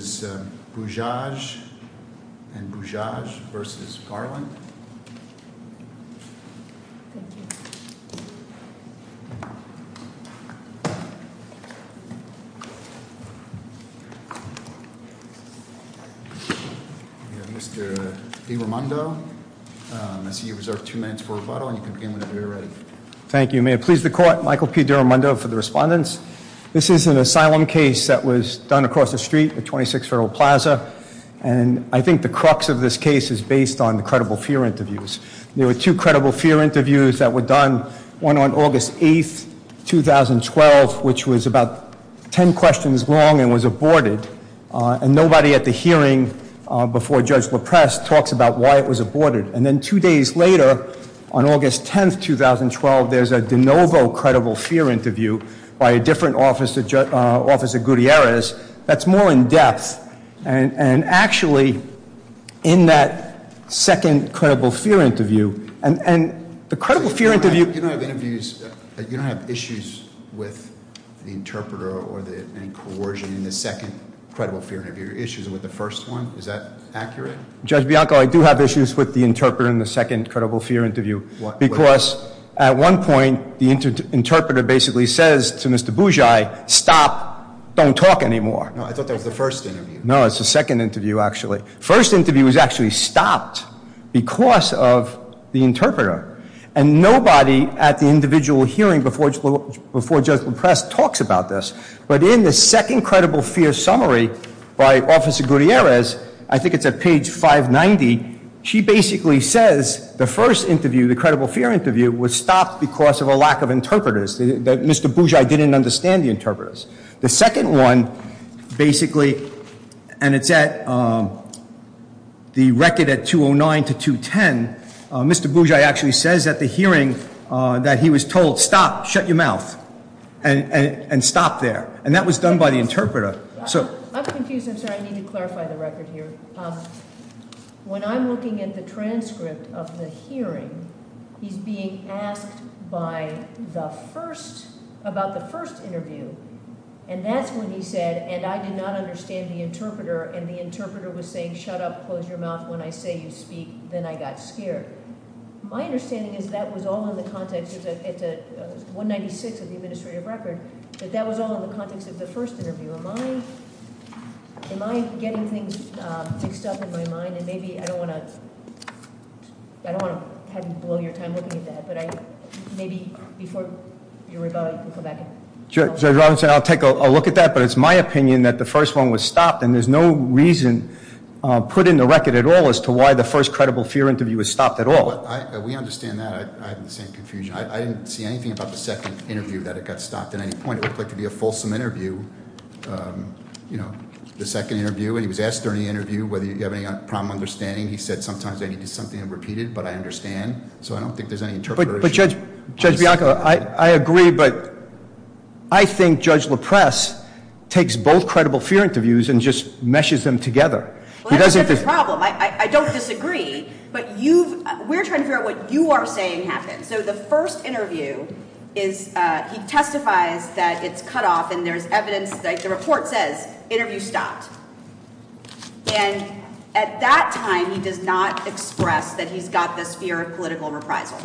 Mr. DeRamundo, I see you reserved two minutes for rebuttal and you can begin whenever you're Thank you. May it please the Court, Michael P. DeRamundo for the respondents. This is an asylum case that was done across the street at 26 Federal Plaza. And I think the crux of this case is based on the credible fear interviews. There were two credible fear interviews that were done, one on August 8, 2012, which was about ten questions long and was aborted. And nobody at the hearing before Judge LaPrest talks about why it was aborted. And then two days later, on August 10, 2012, there's a de novo credible fear interview by a different officer, Officer Gutierrez, that's more in depth. And actually, in that second credible fear interview, and the credible fear interview- You don't have issues with the interpreter or any coercion in the second credible fear interview. Your issues with the first one, is that accurate? Judge Bianco, I do have issues with the interpreter in the second credible fear interview. Because at one point, the interpreter basically says to Mr. Bougie, stop, don't talk anymore. No, I thought that was the first interview. No, it's the second interview, actually. First interview was actually stopped because of the interpreter. And nobody at the individual hearing before Judge LaPrest talks about this. But in the second credible fear summary by Officer Gutierrez, I think it's at page 590, she basically says the first interview, the credible fear interview, was stopped because of a lack of interpreters. That Mr. Bougie didn't understand the interpreters. The second one, basically, and it's at the record at 209 to 210, Mr. Bougie actually says at the hearing that he was told, stop, shut your mouth, and stop there. And that was done by the interpreter. I'm confused. I'm sorry, I need to clarify the record here. When I'm looking at the transcript of the hearing, he's being asked about the first interview. And that's when he said, and I did not understand the interpreter. And the interpreter was saying, shut up, close your mouth when I say you speak. Then I got scared. My understanding is that was all in the context of 196 of the administrative record. But that was all in the context of the first interview. Am I getting things mixed up in my mind? And maybe I don't want to have you blow your time looking at that. But maybe before you rebut, you can go back and- Judge Robinson, I'll take a look at that. But it's my opinion that the first one was stopped. And there's no reason put in the record at all as to why the first credible fear interview was stopped at all. We understand that. I have the same confusion. I didn't see anything about the second interview that it got stopped at any point. It looked like it would be a fulsome interview, the second interview. And he was asked during the interview whether he had any problem understanding. He said, sometimes I need something repeated, but I understand. So I don't think there's any interpreter- So Judge Bianco, I agree, but I think Judge LaPress takes both credible fear interviews and just meshes them together. He doesn't- Well, that's a different problem. I don't disagree. But we're trying to figure out what you are saying happened. So the first interview, he testifies that it's cut off. And there's evidence. The report says interview stopped. And at that time, he does not express that he's got this fear of political reprisal,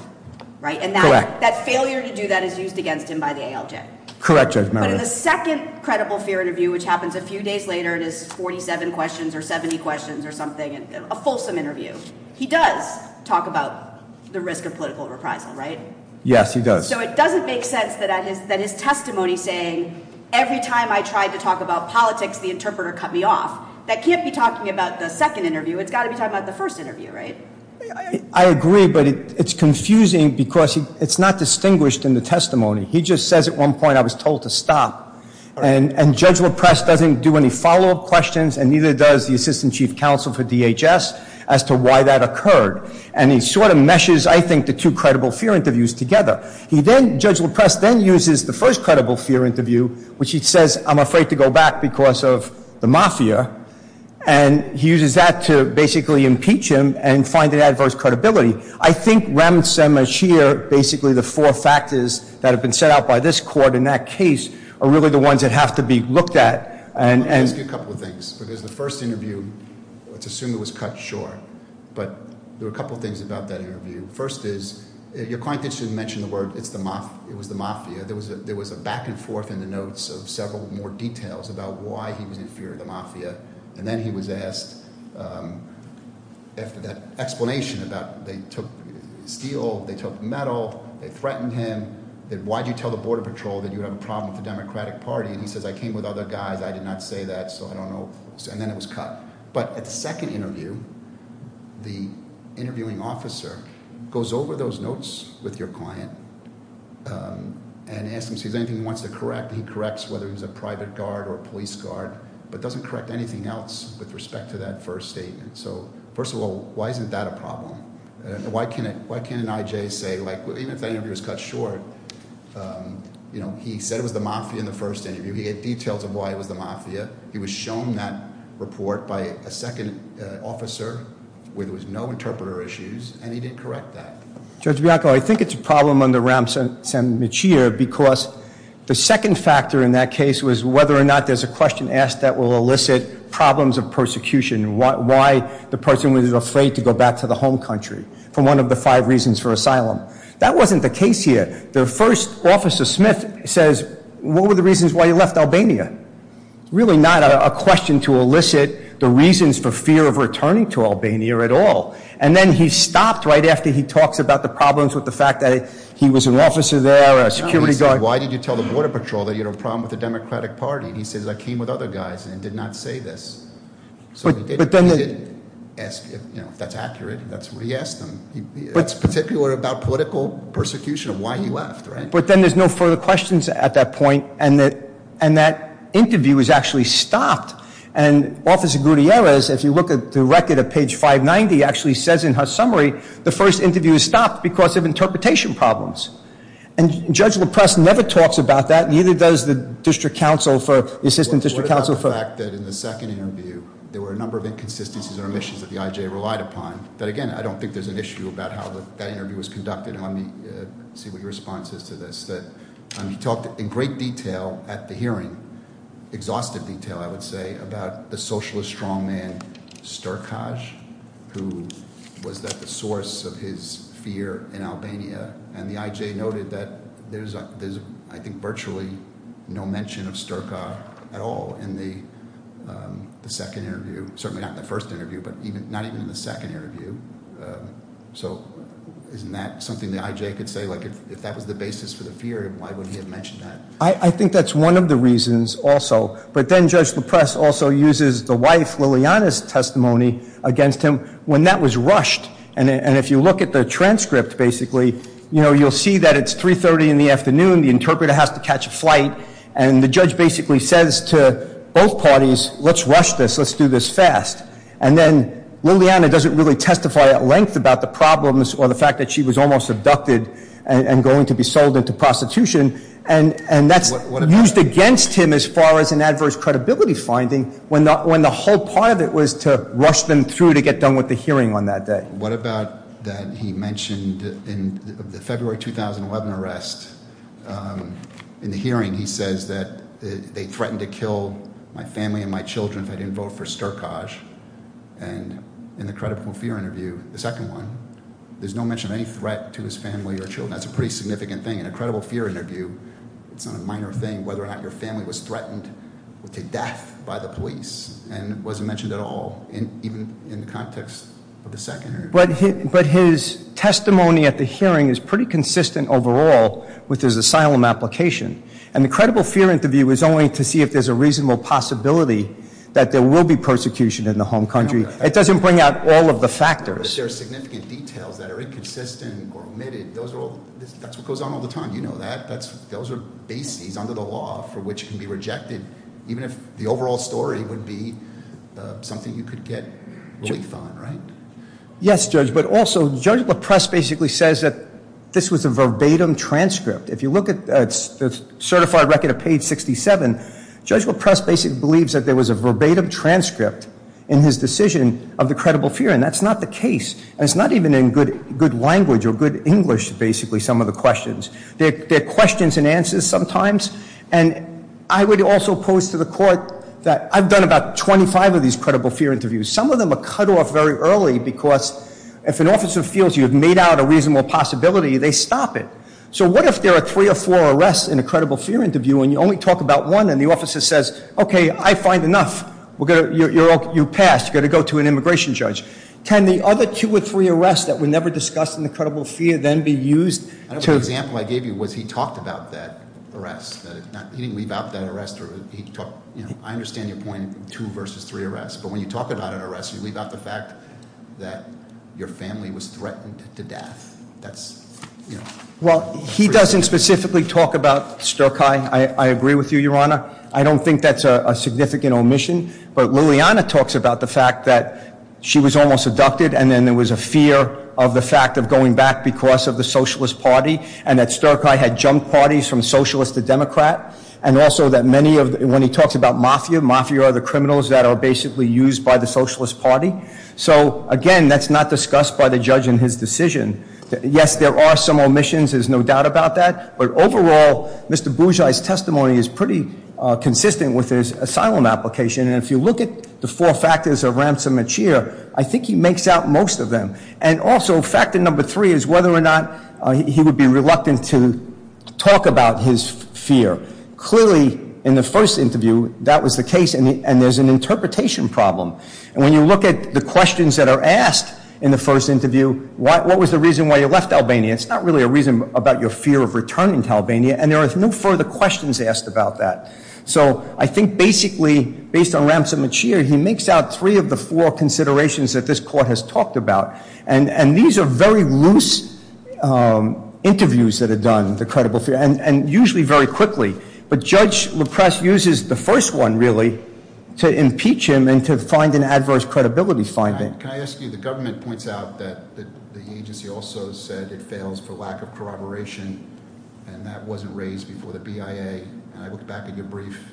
right? And that failure to do that is used against him by the ALJ. Correct, Judge Murray. But in the second credible fear interview, which happens a few days later and is 47 questions or 70 questions or something, a fulsome interview, he does talk about the risk of political reprisal, right? Yes, he does. So it doesn't make sense that his testimony saying, every time I tried to talk about politics, the interpreter cut me off, that can't be talking about the second interview. It's got to be talking about the first interview, right? I agree, but it's confusing because it's not distinguished in the testimony. He just says at one point, I was told to stop. And Judge LaPress doesn't do any follow-up questions, and neither does the Assistant Chief Counsel for DHS, as to why that occurred. And he sort of meshes, I think, the two credible fear interviews together. He then, Judge LaPress then uses the first credible fear interview, which he says, I'm afraid to go back because of the mafia. And he uses that to basically impeach him and find an adverse credibility. I think, ramshamashir, basically the four factors that have been set out by this court in that case are really the ones that have to be looked at. And- Let me ask you a couple of things. Because the first interview, let's assume it was cut short. But there were a couple of things about that interview. First is your client did mention the word it's the – it was the mafia. There was a back-and-forth in the notes of several more details about why he was in fear of the mafia. And then he was asked after that explanation about they took steel, they took metal, they threatened him. Why did you tell the border patrol that you have a problem with the Democratic Party? And he says, I came with other guys. I did not say that, so I don't know. And then it was cut. But at the second interview, the interviewing officer goes over those notes with your client and asks him if there's anything he wants to correct. He corrects whether he was a private guard or a police guard but doesn't correct anything else with respect to that first statement. So, first of all, why isn't that a problem? Why can't an IJ say – even if that interview was cut short, he said it was the mafia in the first interview. He gave details of why it was the mafia. He was shown that report by a second officer where there was no interpreter issues, and he didn't correct that. Judge Bianco, I think it's a problem under Ram Sammichia because the second factor in that case was whether or not there's a question asked that will elicit problems of persecution, why the person was afraid to go back to the home country for one of the five reasons for asylum. That wasn't the case here. The first officer, Smith, says, what were the reasons why you left Albania? It's really not a question to elicit the reasons for fear of returning to Albania at all. And then he stopped right after he talks about the problems with the fact that he was an officer there, a security guard. Why did you tell the border patrol that you had a problem with the Democratic Party? He says, I came with other guys and did not say this. So he didn't ask if that's accurate. That's what he asked them. It's particular about political persecution, why he left, right? But then there's no further questions at that point, and that interview is actually stopped. And Officer Gutierrez, if you look at the record at page 590, actually says in her summary, the first interview is stopped because of interpretation problems. And Judge LaPrest never talks about that, neither does the District Counsel for, the Assistant District Counsel for- What about the fact that in the second interview, there were a number of inconsistencies or omissions that the IJ relied upon? But again, I don't think there's an issue about how that interview was conducted. Let me see what your response is to this. He talked in great detail at the hearing, exhaustive detail, I would say, about the socialist strongman Sturkaj, who was at the source of his fear in Albania. And the IJ noted that there's, I think, virtually no mention of Sturkaj at all in the second interview, certainly not in the first interview, but not even in the second interview. So isn't that something the IJ could say? If that was the basis for the fear, why would he have mentioned that? I think that's one of the reasons also. But then Judge LaPrest also uses the wife Liliana's testimony against him when that was rushed. And if you look at the transcript, basically, you'll see that it's 3.30 in the afternoon, the interpreter has to catch a flight, and the judge basically says to both parties, let's rush this, let's do this fast. And then Liliana doesn't really testify at length about the problems or the fact that she was almost abducted and going to be sold into prostitution, and that's used against him as far as an adverse credibility finding when the whole part of it was to rush them through to get done with the hearing on that day. What about that he mentioned in the February 2011 arrest, in the hearing he says that they threatened to kill my family and my children if I didn't vote for Sturkaj. And in the credible fear interview, the second one, there's no mention of any threat to his family or children. That's a pretty significant thing. In a credible fear interview, it's not a minor thing whether or not your family was threatened to death by the police. And it wasn't mentioned at all, even in the context of the secondary. But his testimony at the hearing is pretty consistent overall with his asylum application. And the credible fear interview is only to see if there's a reasonable possibility that there will be persecution in the home country. It doesn't bring out all of the factors. But there are significant details that are inconsistent or omitted. That's what goes on all the time, you know that. Those are bases under the law for which can be rejected, even if the overall story would be something you could get relief on, right? Yes, Judge. But also, Judge LaPress basically says that this was a verbatim transcript. If you look at the certified record of page 67, Judge LaPress basically believes that there was a verbatim transcript in his decision of the credible fear. And that's not the case. And it's not even in good language or good English, basically, some of the questions. They're questions and answers sometimes. And I would also pose to the court that I've done about 25 of these credible fear interviews. Some of them are cut off very early, because if an officer feels you have made out a reasonable possibility, they stop it. So what if there are three or four arrests in a credible fear interview, and you only talk about one, and the officer says, okay, I find enough. You passed. You got to go to an immigration judge. Can the other two or three arrests that were never discussed in the credible fear then be used to- What I gave you was he talked about that arrest. He didn't leave out that arrest. I understand your point, two versus three arrests. But when you talk about an arrest, you leave out the fact that your family was threatened to death. That's- Well, he doesn't specifically talk about Stokkeye. I agree with you, Your Honor. I don't think that's a significant omission. But Lilliana talks about the fact that she was almost abducted, and then there was a fear of the fact of going back because of the Socialist Party, and that Stokkeye had jumped parties from Socialist to Democrat, and also that many of- When he talks about mafia, mafia are the criminals that are basically used by the Socialist Party. So, again, that's not discussed by the judge in his decision. Yes, there are some omissions. There's no doubt about that. But overall, Mr. Bougie's testimony is pretty consistent with his asylum application, and if you look at the four factors of ransom and cheer, I think he makes out most of them. And also, factor number three is whether or not he would be reluctant to talk about his fear. Clearly, in the first interview, that was the case, and there's an interpretation problem. And when you look at the questions that are asked in the first interview, what was the reason why you left Albania, it's not really a reason about your fear of returning to Albania, and there are no further questions asked about that. So, I think basically, based on ransom and cheer, he makes out three of the four considerations that this court has talked about. And these are very loose interviews that are done, the credible fear, and usually very quickly. But Judge LaPresse uses the first one, really, to impeach him and to find an adverse credibility finding. Can I ask you, the government points out that the agency also said it fails for lack of corroboration, and that wasn't raised before the BIA, and I looked back at your brief,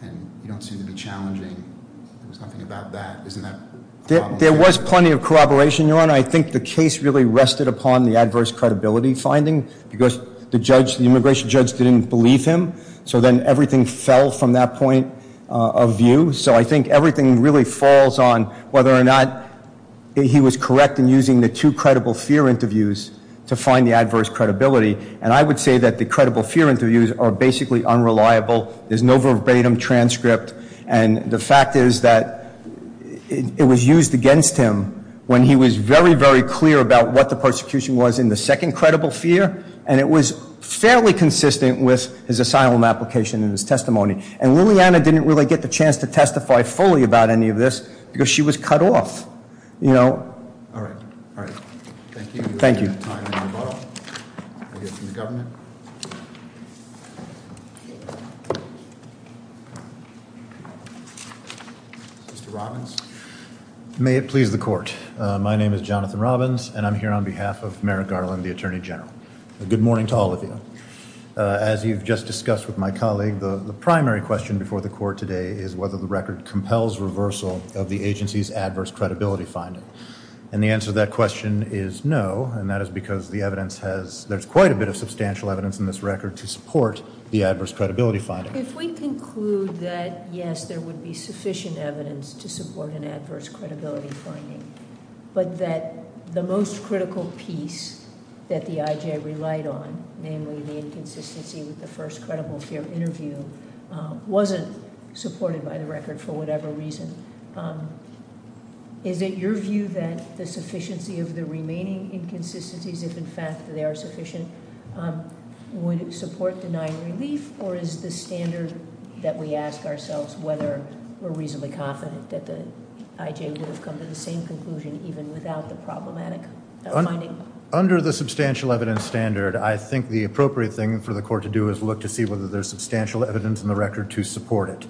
and you don't seem to be challenging. There was nothing about that. Isn't that problematic? There was plenty of corroboration, Your Honor. I think the case really rested upon the adverse credibility finding, because the immigration judge didn't believe him, so then everything fell from that point of view. So, I think everything really falls on whether or not he was correct in using the two credible fear interviews to find the adverse credibility. And I would say that the credible fear interviews are basically unreliable. There's no verbatim transcript. And the fact is that it was used against him when he was very, very clear about what the persecution was in the second credible fear, and it was fairly consistent with his asylum application and his testimony. And Lilliana didn't really get the chance to testify fully about any of this, because she was cut off. You know? All right. All right. Thank you. We don't have time for rebuttal. We'll hear from the government. Mr. Robbins? May it please the court. My name is Jonathan Robbins, and I'm here on behalf of Merrick Garland, the Attorney General. A good morning to all of you. As you've just discussed with my colleague, the primary question before the court today is whether the record compels reversal of the agency's adverse credibility finding. And the answer to that question is no, and that is because the evidence has, there's quite a bit of substantial evidence in this record to support the adverse credibility finding. If we conclude that, yes, there would be sufficient evidence to support an adverse credibility finding, but that the most critical piece that the IJ relied on, namely the inconsistency with the first credible fear interview, wasn't supported by the record for whatever reason, is it your view that the sufficiency of the remaining inconsistencies, if in fact they are sufficient, would support denying relief, or is the standard that we ask ourselves whether we're reasonably confident that the IJ would have come to the same conclusion, even without the problematic finding? Under the substantial evidence standard, I think the appropriate thing for the court to do is look to see whether there's substantial evidence in the record to support it.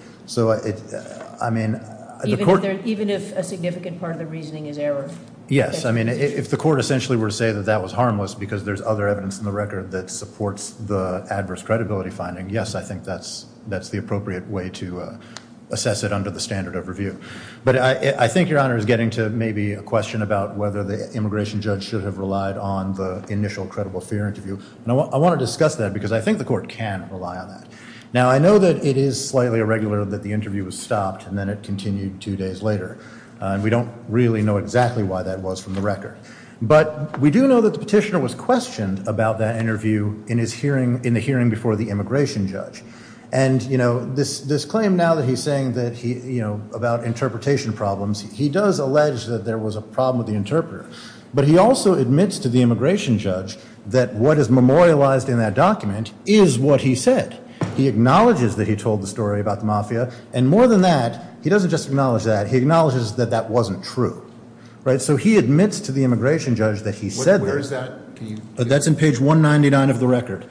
Even if a significant part of the reasoning is error? Yes, I mean, if the court essentially were to say that that was harmless because there's other evidence in the record that supports the adverse credibility finding, yes, I think that's the appropriate way to assess it under the standard of review. But I think Your Honor is getting to maybe a question about whether the immigration judge should have relied on the initial credible fear interview, and I want to discuss that because I think the court can rely on that. Now, I know that it is slightly irregular that the interview was stopped and then it continued two days later, and we don't really know exactly why that was from the record, but we do know that the petitioner was questioned about that interview in the hearing before the immigration judge, and this claim now that he's saying about interpretation problems, he does allege that there was a problem with the interpreter, but he also admits to the immigration judge that what is memorialized in that document is what he said. He acknowledges that he told the story about the mafia, and more than that, he doesn't just acknowledge that, he acknowledges that that wasn't true. So he admits to the immigration judge that he said that. Where is that? That's in page 199 of the record.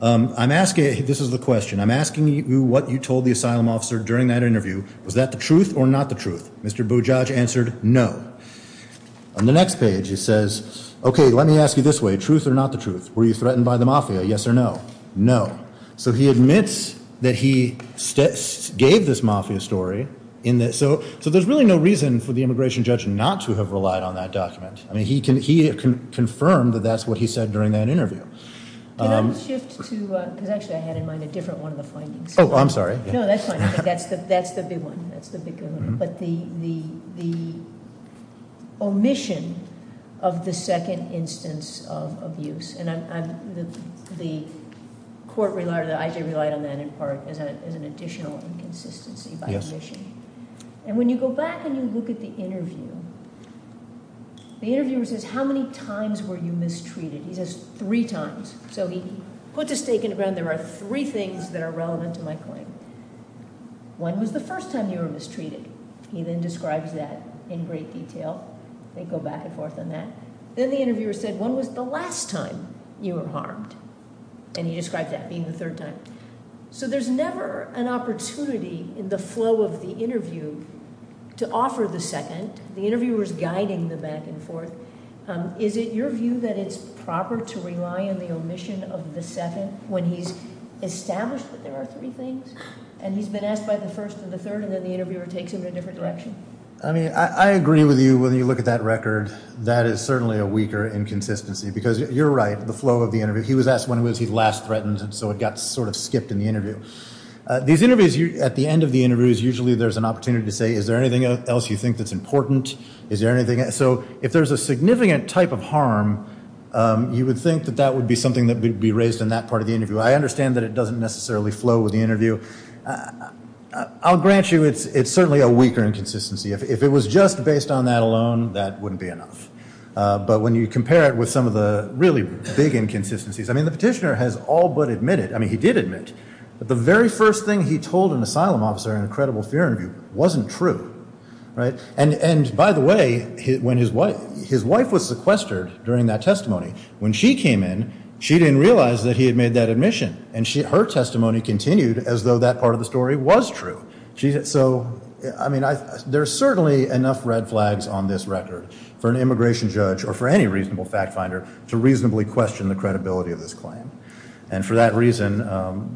This is the question. I'm asking you what you told the asylum officer during that interview. Was that the truth or not the truth? Mr. Bujaj answered no. On the next page, it says, okay, let me ask you this way. Truth or not the truth? Were you threatened by the mafia, yes or no? No. So he admits that he gave this mafia story. So there's really no reason for the immigration judge not to have relied on that document. He confirmed that that's what he said during that interview. Can I shift to, because actually I had in mind a different one of the findings. Oh, I'm sorry. No, that's fine. That's the big one. That's the big one. But the omission of the second instance of abuse, and the court relied or the IJ relied on that in part as an additional inconsistency by omission. And when you go back and you look at the interview, the interviewer says, how many times were you mistreated? He says three times. So he puts a stake in the ground. There are three things that are relevant to my claim. One was the first time you were mistreated. He then describes that in great detail. They go back and forth on that. Then the interviewer said, when was the last time you were harmed? And he described that being the third time. So there's never an opportunity in the flow of the interview to offer the second. The interviewer is guiding them back and forth. Is it your view that it's proper to rely on the omission of the second when he's established that there are three things? And he's been asked by the first and the third, and then the interviewer takes him in a different direction? I mean, I agree with you when you look at that record. That is certainly a weaker inconsistency, because you're right, the flow of the interview. He was asked when was he last threatened, and so it got sort of skipped in the interview. These interviews, at the end of the interviews, usually there's an opportunity to say, is there anything else you think that's important? So if there's a significant type of harm, you would think that that would be something that would be raised in that part of the interview. I understand that it doesn't necessarily flow with the interview. I'll grant you it's certainly a weaker inconsistency. If it was just based on that alone, that wouldn't be enough. But when you compare it with some of the really big inconsistencies, I mean, the petitioner has all but admitted, I mean, he did admit that the very first thing he told an asylum officer in a credible fear interview wasn't true. And, by the way, his wife was sequestered during that testimony. When she came in, she didn't realize that he had made that admission, and her testimony continued as though that part of the story was true. So, I mean, there's certainly enough red flags on this record for an immigration judge or for any reasonable fact finder to reasonably question the credibility of this claim. And for that reason,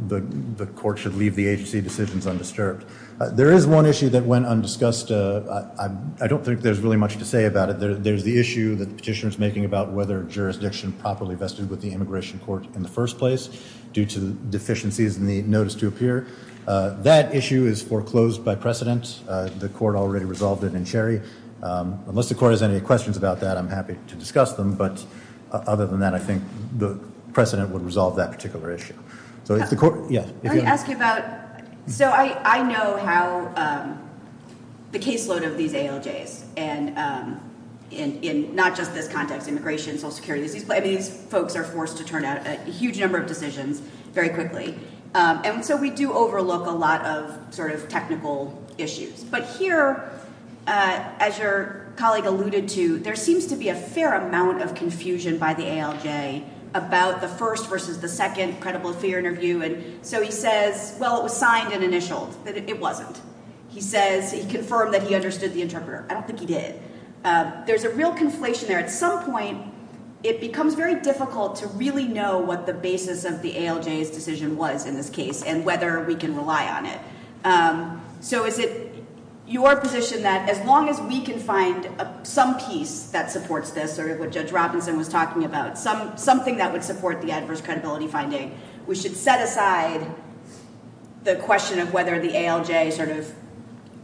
the court should leave the agency decisions undisturbed. There is one issue that went undiscussed. I don't think there's really much to say about it. There's the issue that the petitioner is making about whether jurisdiction properly vested with the immigration court in the first place due to deficiencies in the notice to appear. That issue is foreclosed by precedent. The court already resolved it in Sherry. Unless the court has any questions about that, I'm happy to discuss them. But other than that, I think the precedent would resolve that particular issue. So if the court, yes. Let me ask you about, so I know how the caseload of these ALJs, and in not just this context, immigration, Social Security, these folks are forced to turn out a huge number of decisions very quickly. And so we do overlook a lot of sort of technical issues. But here, as your colleague alluded to, there seems to be a fair amount of confusion by the ALJ about the first versus the second credible fear interview. And so he says, well, it was signed and initialed. But it wasn't. He says, he confirmed that he understood the interpreter. I don't think he did. There's a real conflation there. At some point, it becomes very difficult to really know what the basis of the ALJ's decision was in this case and whether we can rely on it. So is it your position that as long as we can find some piece that supports this, sort of what Judge Robinson was talking about, something that would support the adverse credibility finding, we should set aside the question of whether the ALJ sort of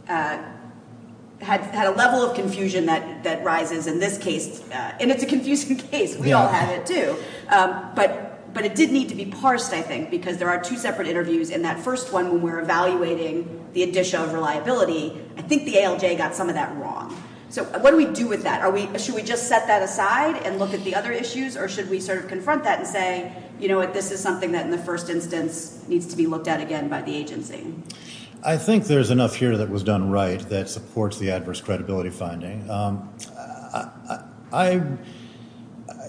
had a level of confusion that rises in this case. And it's a confusing case. We all had it, too. But it did need to be parsed, I think, because there are two separate interviews. In that first one, when we're evaluating the addition of reliability, I think the ALJ got some of that wrong. So what do we do with that? Should we just set that aside and look at the other issues? Or should we sort of confront that and say, you know what, this is something that in the first instance needs to be looked at again by the agency? I think there's enough here that was done right that supports the adverse credibility finding.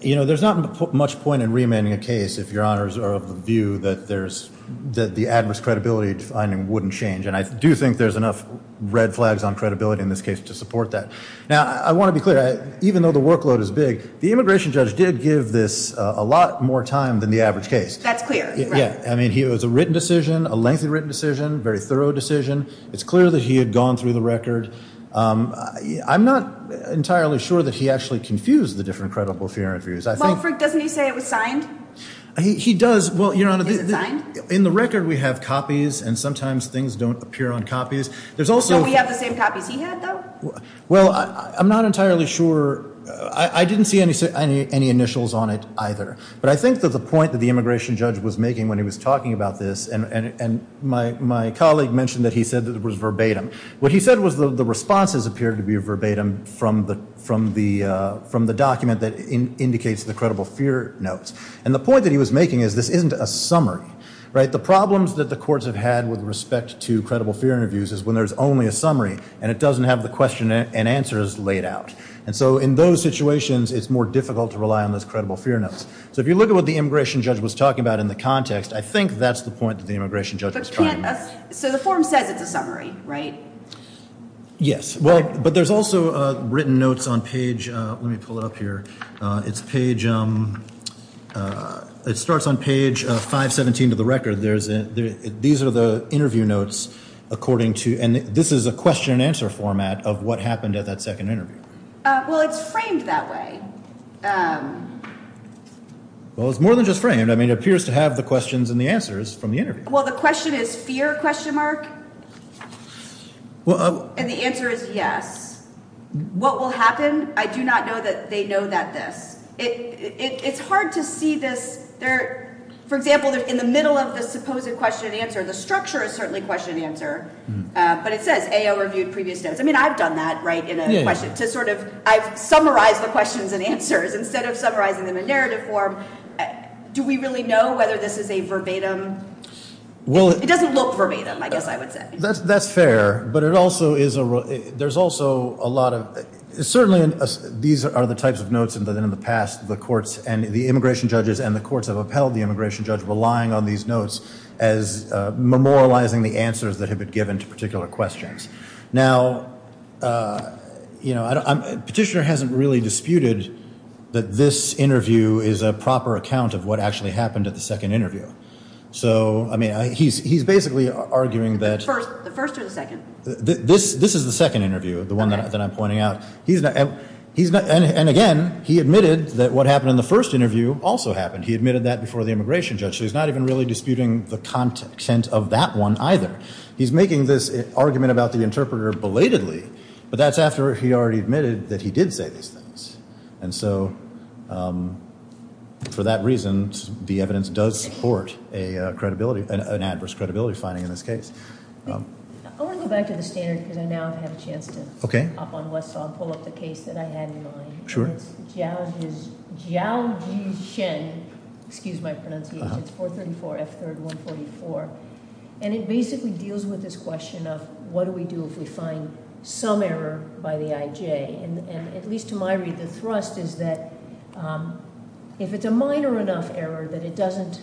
You know, there's not much point in remanding a case if your honors are of the view that the adverse credibility finding wouldn't change. And I do think there's enough red flags on credibility in this case to support that. Now, I want to be clear. Even though the workload is big, the immigration judge did give this a lot more time than the average case. That's clear. Yeah. I mean, it was a written decision, a lengthy written decision, very thorough decision. It's clear that he had gone through the record. I'm not entirely sure that he actually confused the different credible fear interviews. Well, Frick, doesn't he say it was signed? He does. Is it signed? In the record, we have copies, and sometimes things don't appear on copies. Don't we have the same copies he had, though? Well, I'm not entirely sure. I didn't see any initials on it either. But I think that the point that the immigration judge was making when he was talking about this, and my colleague mentioned that he said that it was verbatim. What he said was the responses appeared to be verbatim from the document that indicates the credible fear notes. And the point that he was making is this isn't a summary, right? But the problems that the courts have had with respect to credible fear interviews is when there's only a summary, and it doesn't have the question and answers laid out. And so in those situations, it's more difficult to rely on those credible fear notes. So if you look at what the immigration judge was talking about in the context, I think that's the point that the immigration judge was trying to make. So the form says it's a summary, right? Yes. But there's also written notes on page ‑‑ let me pull it up here. It's page ‑‑ it starts on page 517 of the record. These are the interview notes according to ‑‑ and this is a question and answer format of what happened at that second interview. Well, it's framed that way. Well, it's more than just framed. I mean, it appears to have the questions and the answers from the interview. Well, the question is fear? And the answer is yes. What will happen? I do not know that they know that this. It's hard to see this. For example, in the middle of the supposed question and answer, the structure is certainly question and answer, but it says AO reviewed previous notes. I mean, I've done that, right, in a question to sort of summarize the questions and answers instead of summarizing them in narrative form. Do we really know whether this is a verbatim? It doesn't look verbatim, I guess I would say. That's fair, but it also is a ‑‑ there's also a lot of ‑‑ certainly these are the types of notes that in the past the courts and the immigration judges and the courts have upheld the immigration judge relying on these notes as memorializing the answers that have been given to particular questions. Now, you know, Petitioner hasn't really disputed that this interview is a proper account of what actually happened at the second interview. So, I mean, he's basically arguing that ‑‑ The first or the second? This is the second interview, the one that I'm pointing out. And again, he admitted that what happened in the first interview also happened. He admitted that before the immigration judge, so he's not even really disputing the content of that one either. He's making this argument about the interpreter belatedly, but that's after he already admitted that he did say these things. And so for that reason, the evidence does support a credibility, an adverse credibility finding in this case. I want to go back to the standard because I now have a chance to up on Westlaw and pull up the case that I had in mind. Sure. And it's Zhao Jishen, excuse my pronunciation, it's 434 F3rd 144. And it basically deals with this question of what do we do if we find some error by the IJ? And at least to my read, the thrust is that if it's a minor enough error that it doesn't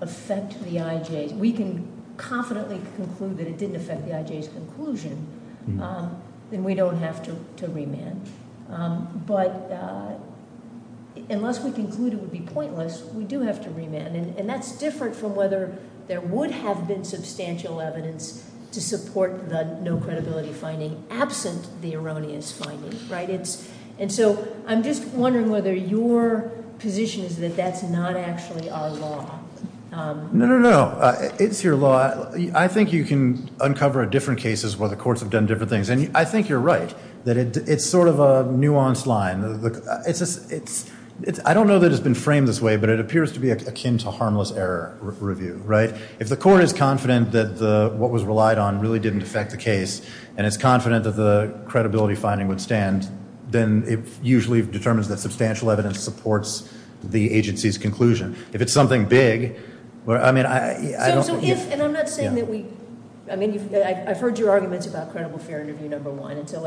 affect the IJ, we can confidently conclude that it didn't affect the IJ's conclusion, then we don't have to remand. But unless we conclude it would be pointless, we do have to remand. And that's different from whether there would have been substantial evidence to support the no credibility finding absent the erroneous finding, right? And so I'm just wondering whether your position is that that's not actually our law. No, no, no. It's your law. I think you can uncover different cases where the courts have done different things. And I think you're right that it's sort of a nuanced line. I don't know that it's been framed this way, but it appears to be akin to harmless error review, right? If the court is confident that what was relied on really didn't affect the case, and it's confident that the credibility finding would stand, then it usually determines that substantial evidence supports the agency's conclusion. If it's something big, I mean, I don't think- So if, and I'm not saying that we, I mean, I've heard your arguments about credible fear interview number one. And so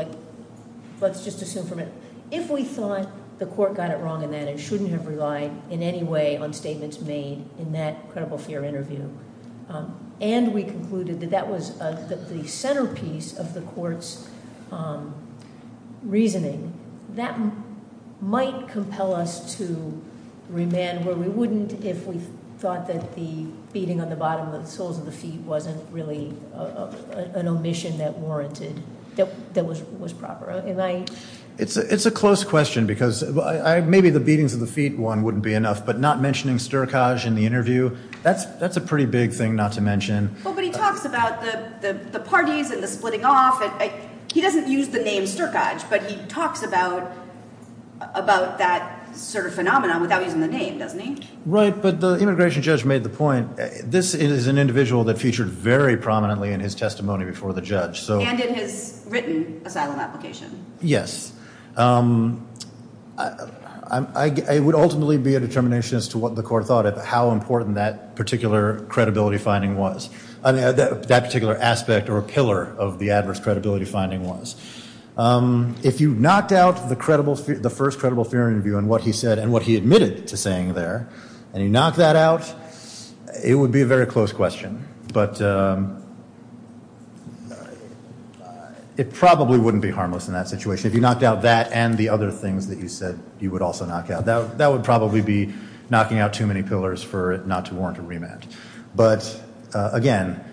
let's just assume for a minute. If we thought the court got it wrong in that and shouldn't have relied in any way on statements made in that credible fear interview, and we concluded that that was the centerpiece of the court's reasoning, that might compel us to remand where we wouldn't if we thought that the beating on the bottom of the soles of the feet wasn't really an omission that warranted, that was proper. Am I- It's a close question because maybe the beatings of the feet one wouldn't be enough, but not mentioning Sturkage in the interview. That's a pretty big thing not to mention. Well, but he talks about the parties and the splitting off. He doesn't use the name Sturkage, but he talks about that sort of phenomenon without using the name, doesn't he? Right, but the immigration judge made the point. This is an individual that featured very prominently in his testimony before the judge. And in his written asylum application. Yes. It would ultimately be a determination as to what the court thought of how important that particular credibility finding was, that particular aspect or pillar of the adverse credibility finding was. If you knocked out the first credible fear interview and what he said and what he admitted to saying there, and you knock that out, it would be a very close question. But it probably wouldn't be harmless in that situation. If you knocked out that and the other things that you said you would also knock out. That would probably be knocking out too many pillars for it not to warrant a remand. But, again,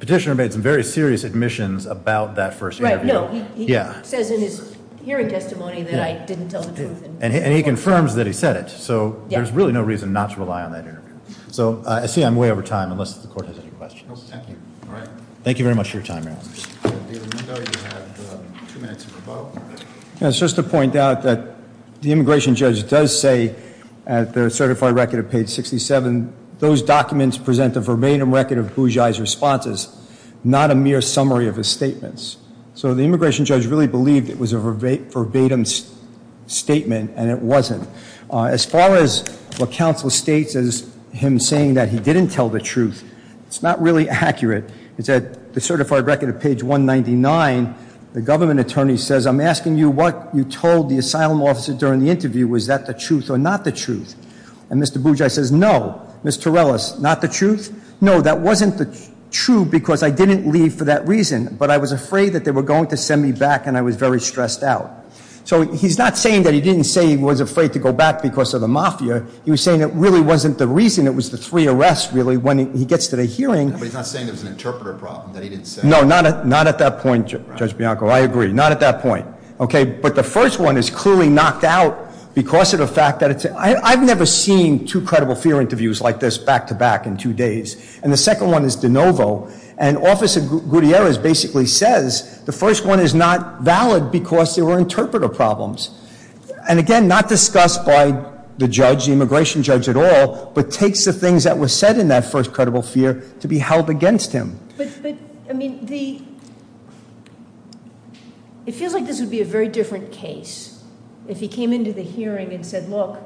petitioner made some very serious admissions about that first interview. Right, no, he says in his hearing testimony that I didn't tell the truth. And he confirms that he said it. So there's really no reason not to rely on that interview. So, I see I'm way over time unless the court has any questions. Thank you. Thank you very much for your time, Marilyn. Just to point out that the immigration judge does say at the certified record of page 67, those documents present a verbatim record of Bougie's responses, not a mere summary of his statements. So the immigration judge really believed it was a verbatim statement, and it wasn't. As far as what counsel states as him saying that he didn't tell the truth, it's not really accurate. It's at the certified record of page 199, the government attorney says, I'm asking you what you told the asylum officer during the interview. Was that the truth or not the truth? And Mr. Bougie says, no. Ms. Torellis, not the truth? No, that wasn't the truth because I didn't leave for that reason. But I was afraid that they were going to send me back, and I was very stressed out. So he's not saying that he didn't say he was afraid to go back because of the mafia. He was saying it really wasn't the reason. It was the three arrests, really, when he gets to the hearing. But he's not saying it was an interpreter problem that he didn't say. No, not at that point, Judge Bianco. I agree. Not at that point. Okay? But the first one is clearly knocked out because of the fact that it's – I've never seen two credible fear interviews like this back to back in two days. And the second one is de novo. And Officer Gutierrez basically says the first one is not valid because there were interpreter problems. And, again, not discussed by the judge, the immigration judge at all, but takes the things that were said in that first credible fear to be held against him. But, I mean, the – it feels like this would be a very different case if he came into the hearing and said, look,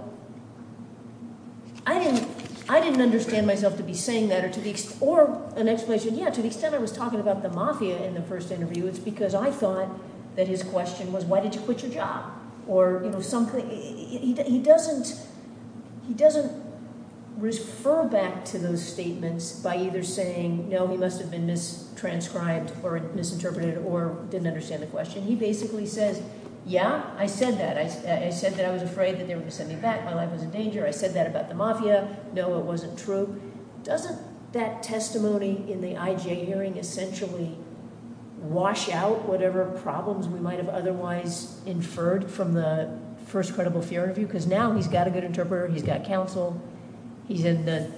I didn't understand myself to be saying that or an explanation. Yeah, to the extent I was talking about the mafia in the first interview, it's because I thought that his question was, why did you quit your job? Or, you know, something – he doesn't refer back to those statements by either saying, no, he must have been mistranscribed or misinterpreted or didn't understand the question. He basically says, yeah, I said that. I said that I was afraid that they were going to send me back. My life was in danger. I said that about the mafia. No, it wasn't true. Doesn't that testimony in the IJ hearing essentially wash out whatever problems we might have otherwise inferred from the first credible fear interview? Because now he's got a good interpreter. He's got counsel. He's in the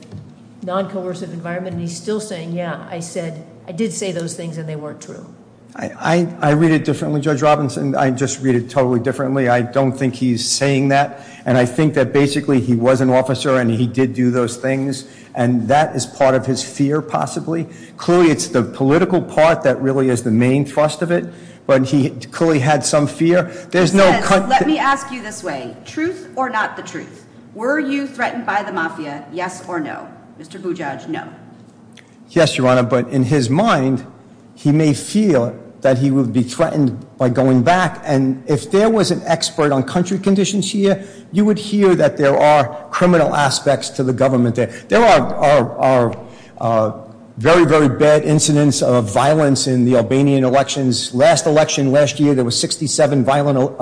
non-coercive environment. And he's still saying, yeah, I said – I did say those things and they weren't true. I read it differently, Judge Robinson. I just read it totally differently. I don't think he's saying that. And I think that basically he was an officer and he did do those things. And that is part of his fear possibly. Clearly it's the political part that really is the main thrust of it. But he clearly had some fear. There's no – Let me ask you this way. Truth or not the truth. Were you threatened by the mafia, yes or no? Mr. Bujaj, no. Yes, Your Honor. But in his mind, he may feel that he would be threatened by going back. And if there was an expert on country conditions here, you would hear that there are criminal aspects to the government there. There are very, very bad incidents of violence in the Albanian elections. Last election last year there were 67 violent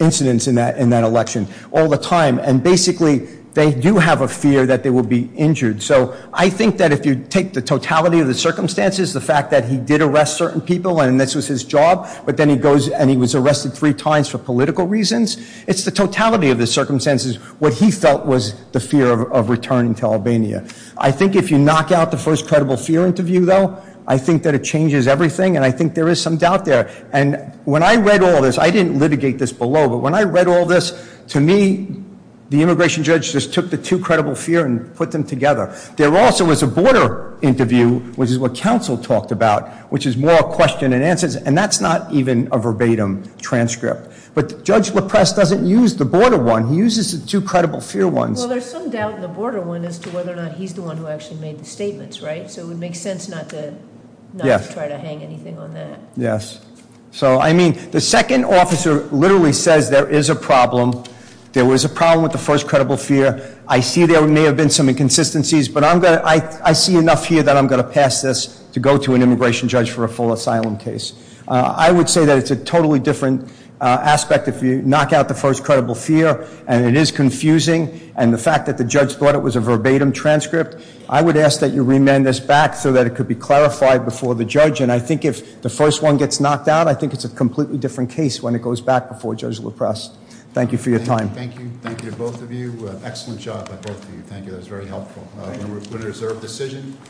incidents in that election all the time. And basically they do have a fear that they will be injured. So I think that if you take the totality of the circumstances, the fact that he did arrest certain people and this was his job, but then he goes and he was arrested three times for political reasons, it's the totality of the circumstances. What he felt was the fear of returning to Albania. I think if you knock out the first credible fear interview, though, I think that it changes everything and I think there is some doubt there. And when I read all this, I didn't litigate this below, but when I read all this, to me, the immigration judge just took the two credible fear and put them together. There also was a border interview, which is what counsel talked about, which is more a question than answers, and that's not even a verbatim transcript. But Judge LaPresse doesn't use the border one. He uses the two credible fear ones. Well, there's some doubt in the border one as to whether or not he's the one who actually made the statements, right? So it would make sense not to try to hang anything on that. Yes. So, I mean, the second officer literally says there is a problem. There was a problem with the first credible fear. I see there may have been some inconsistencies, but I see enough here that I'm going to pass this to go to an immigration judge for a full asylum case. I would say that it's a totally different aspect if you knock out the first credible fear, and it is confusing, and the fact that the judge thought it was a verbatim transcript. I would ask that you remand this back so that it could be clarified before the judge, and I think if the first one gets knocked out, I think it's a completely different case when it goes back before Judge LaPresse. Thank you for your time. Thank you. Thank you to both of you. Excellent job by both of you. Thank you. That was very helpful. We're going to put it as a reserved decision.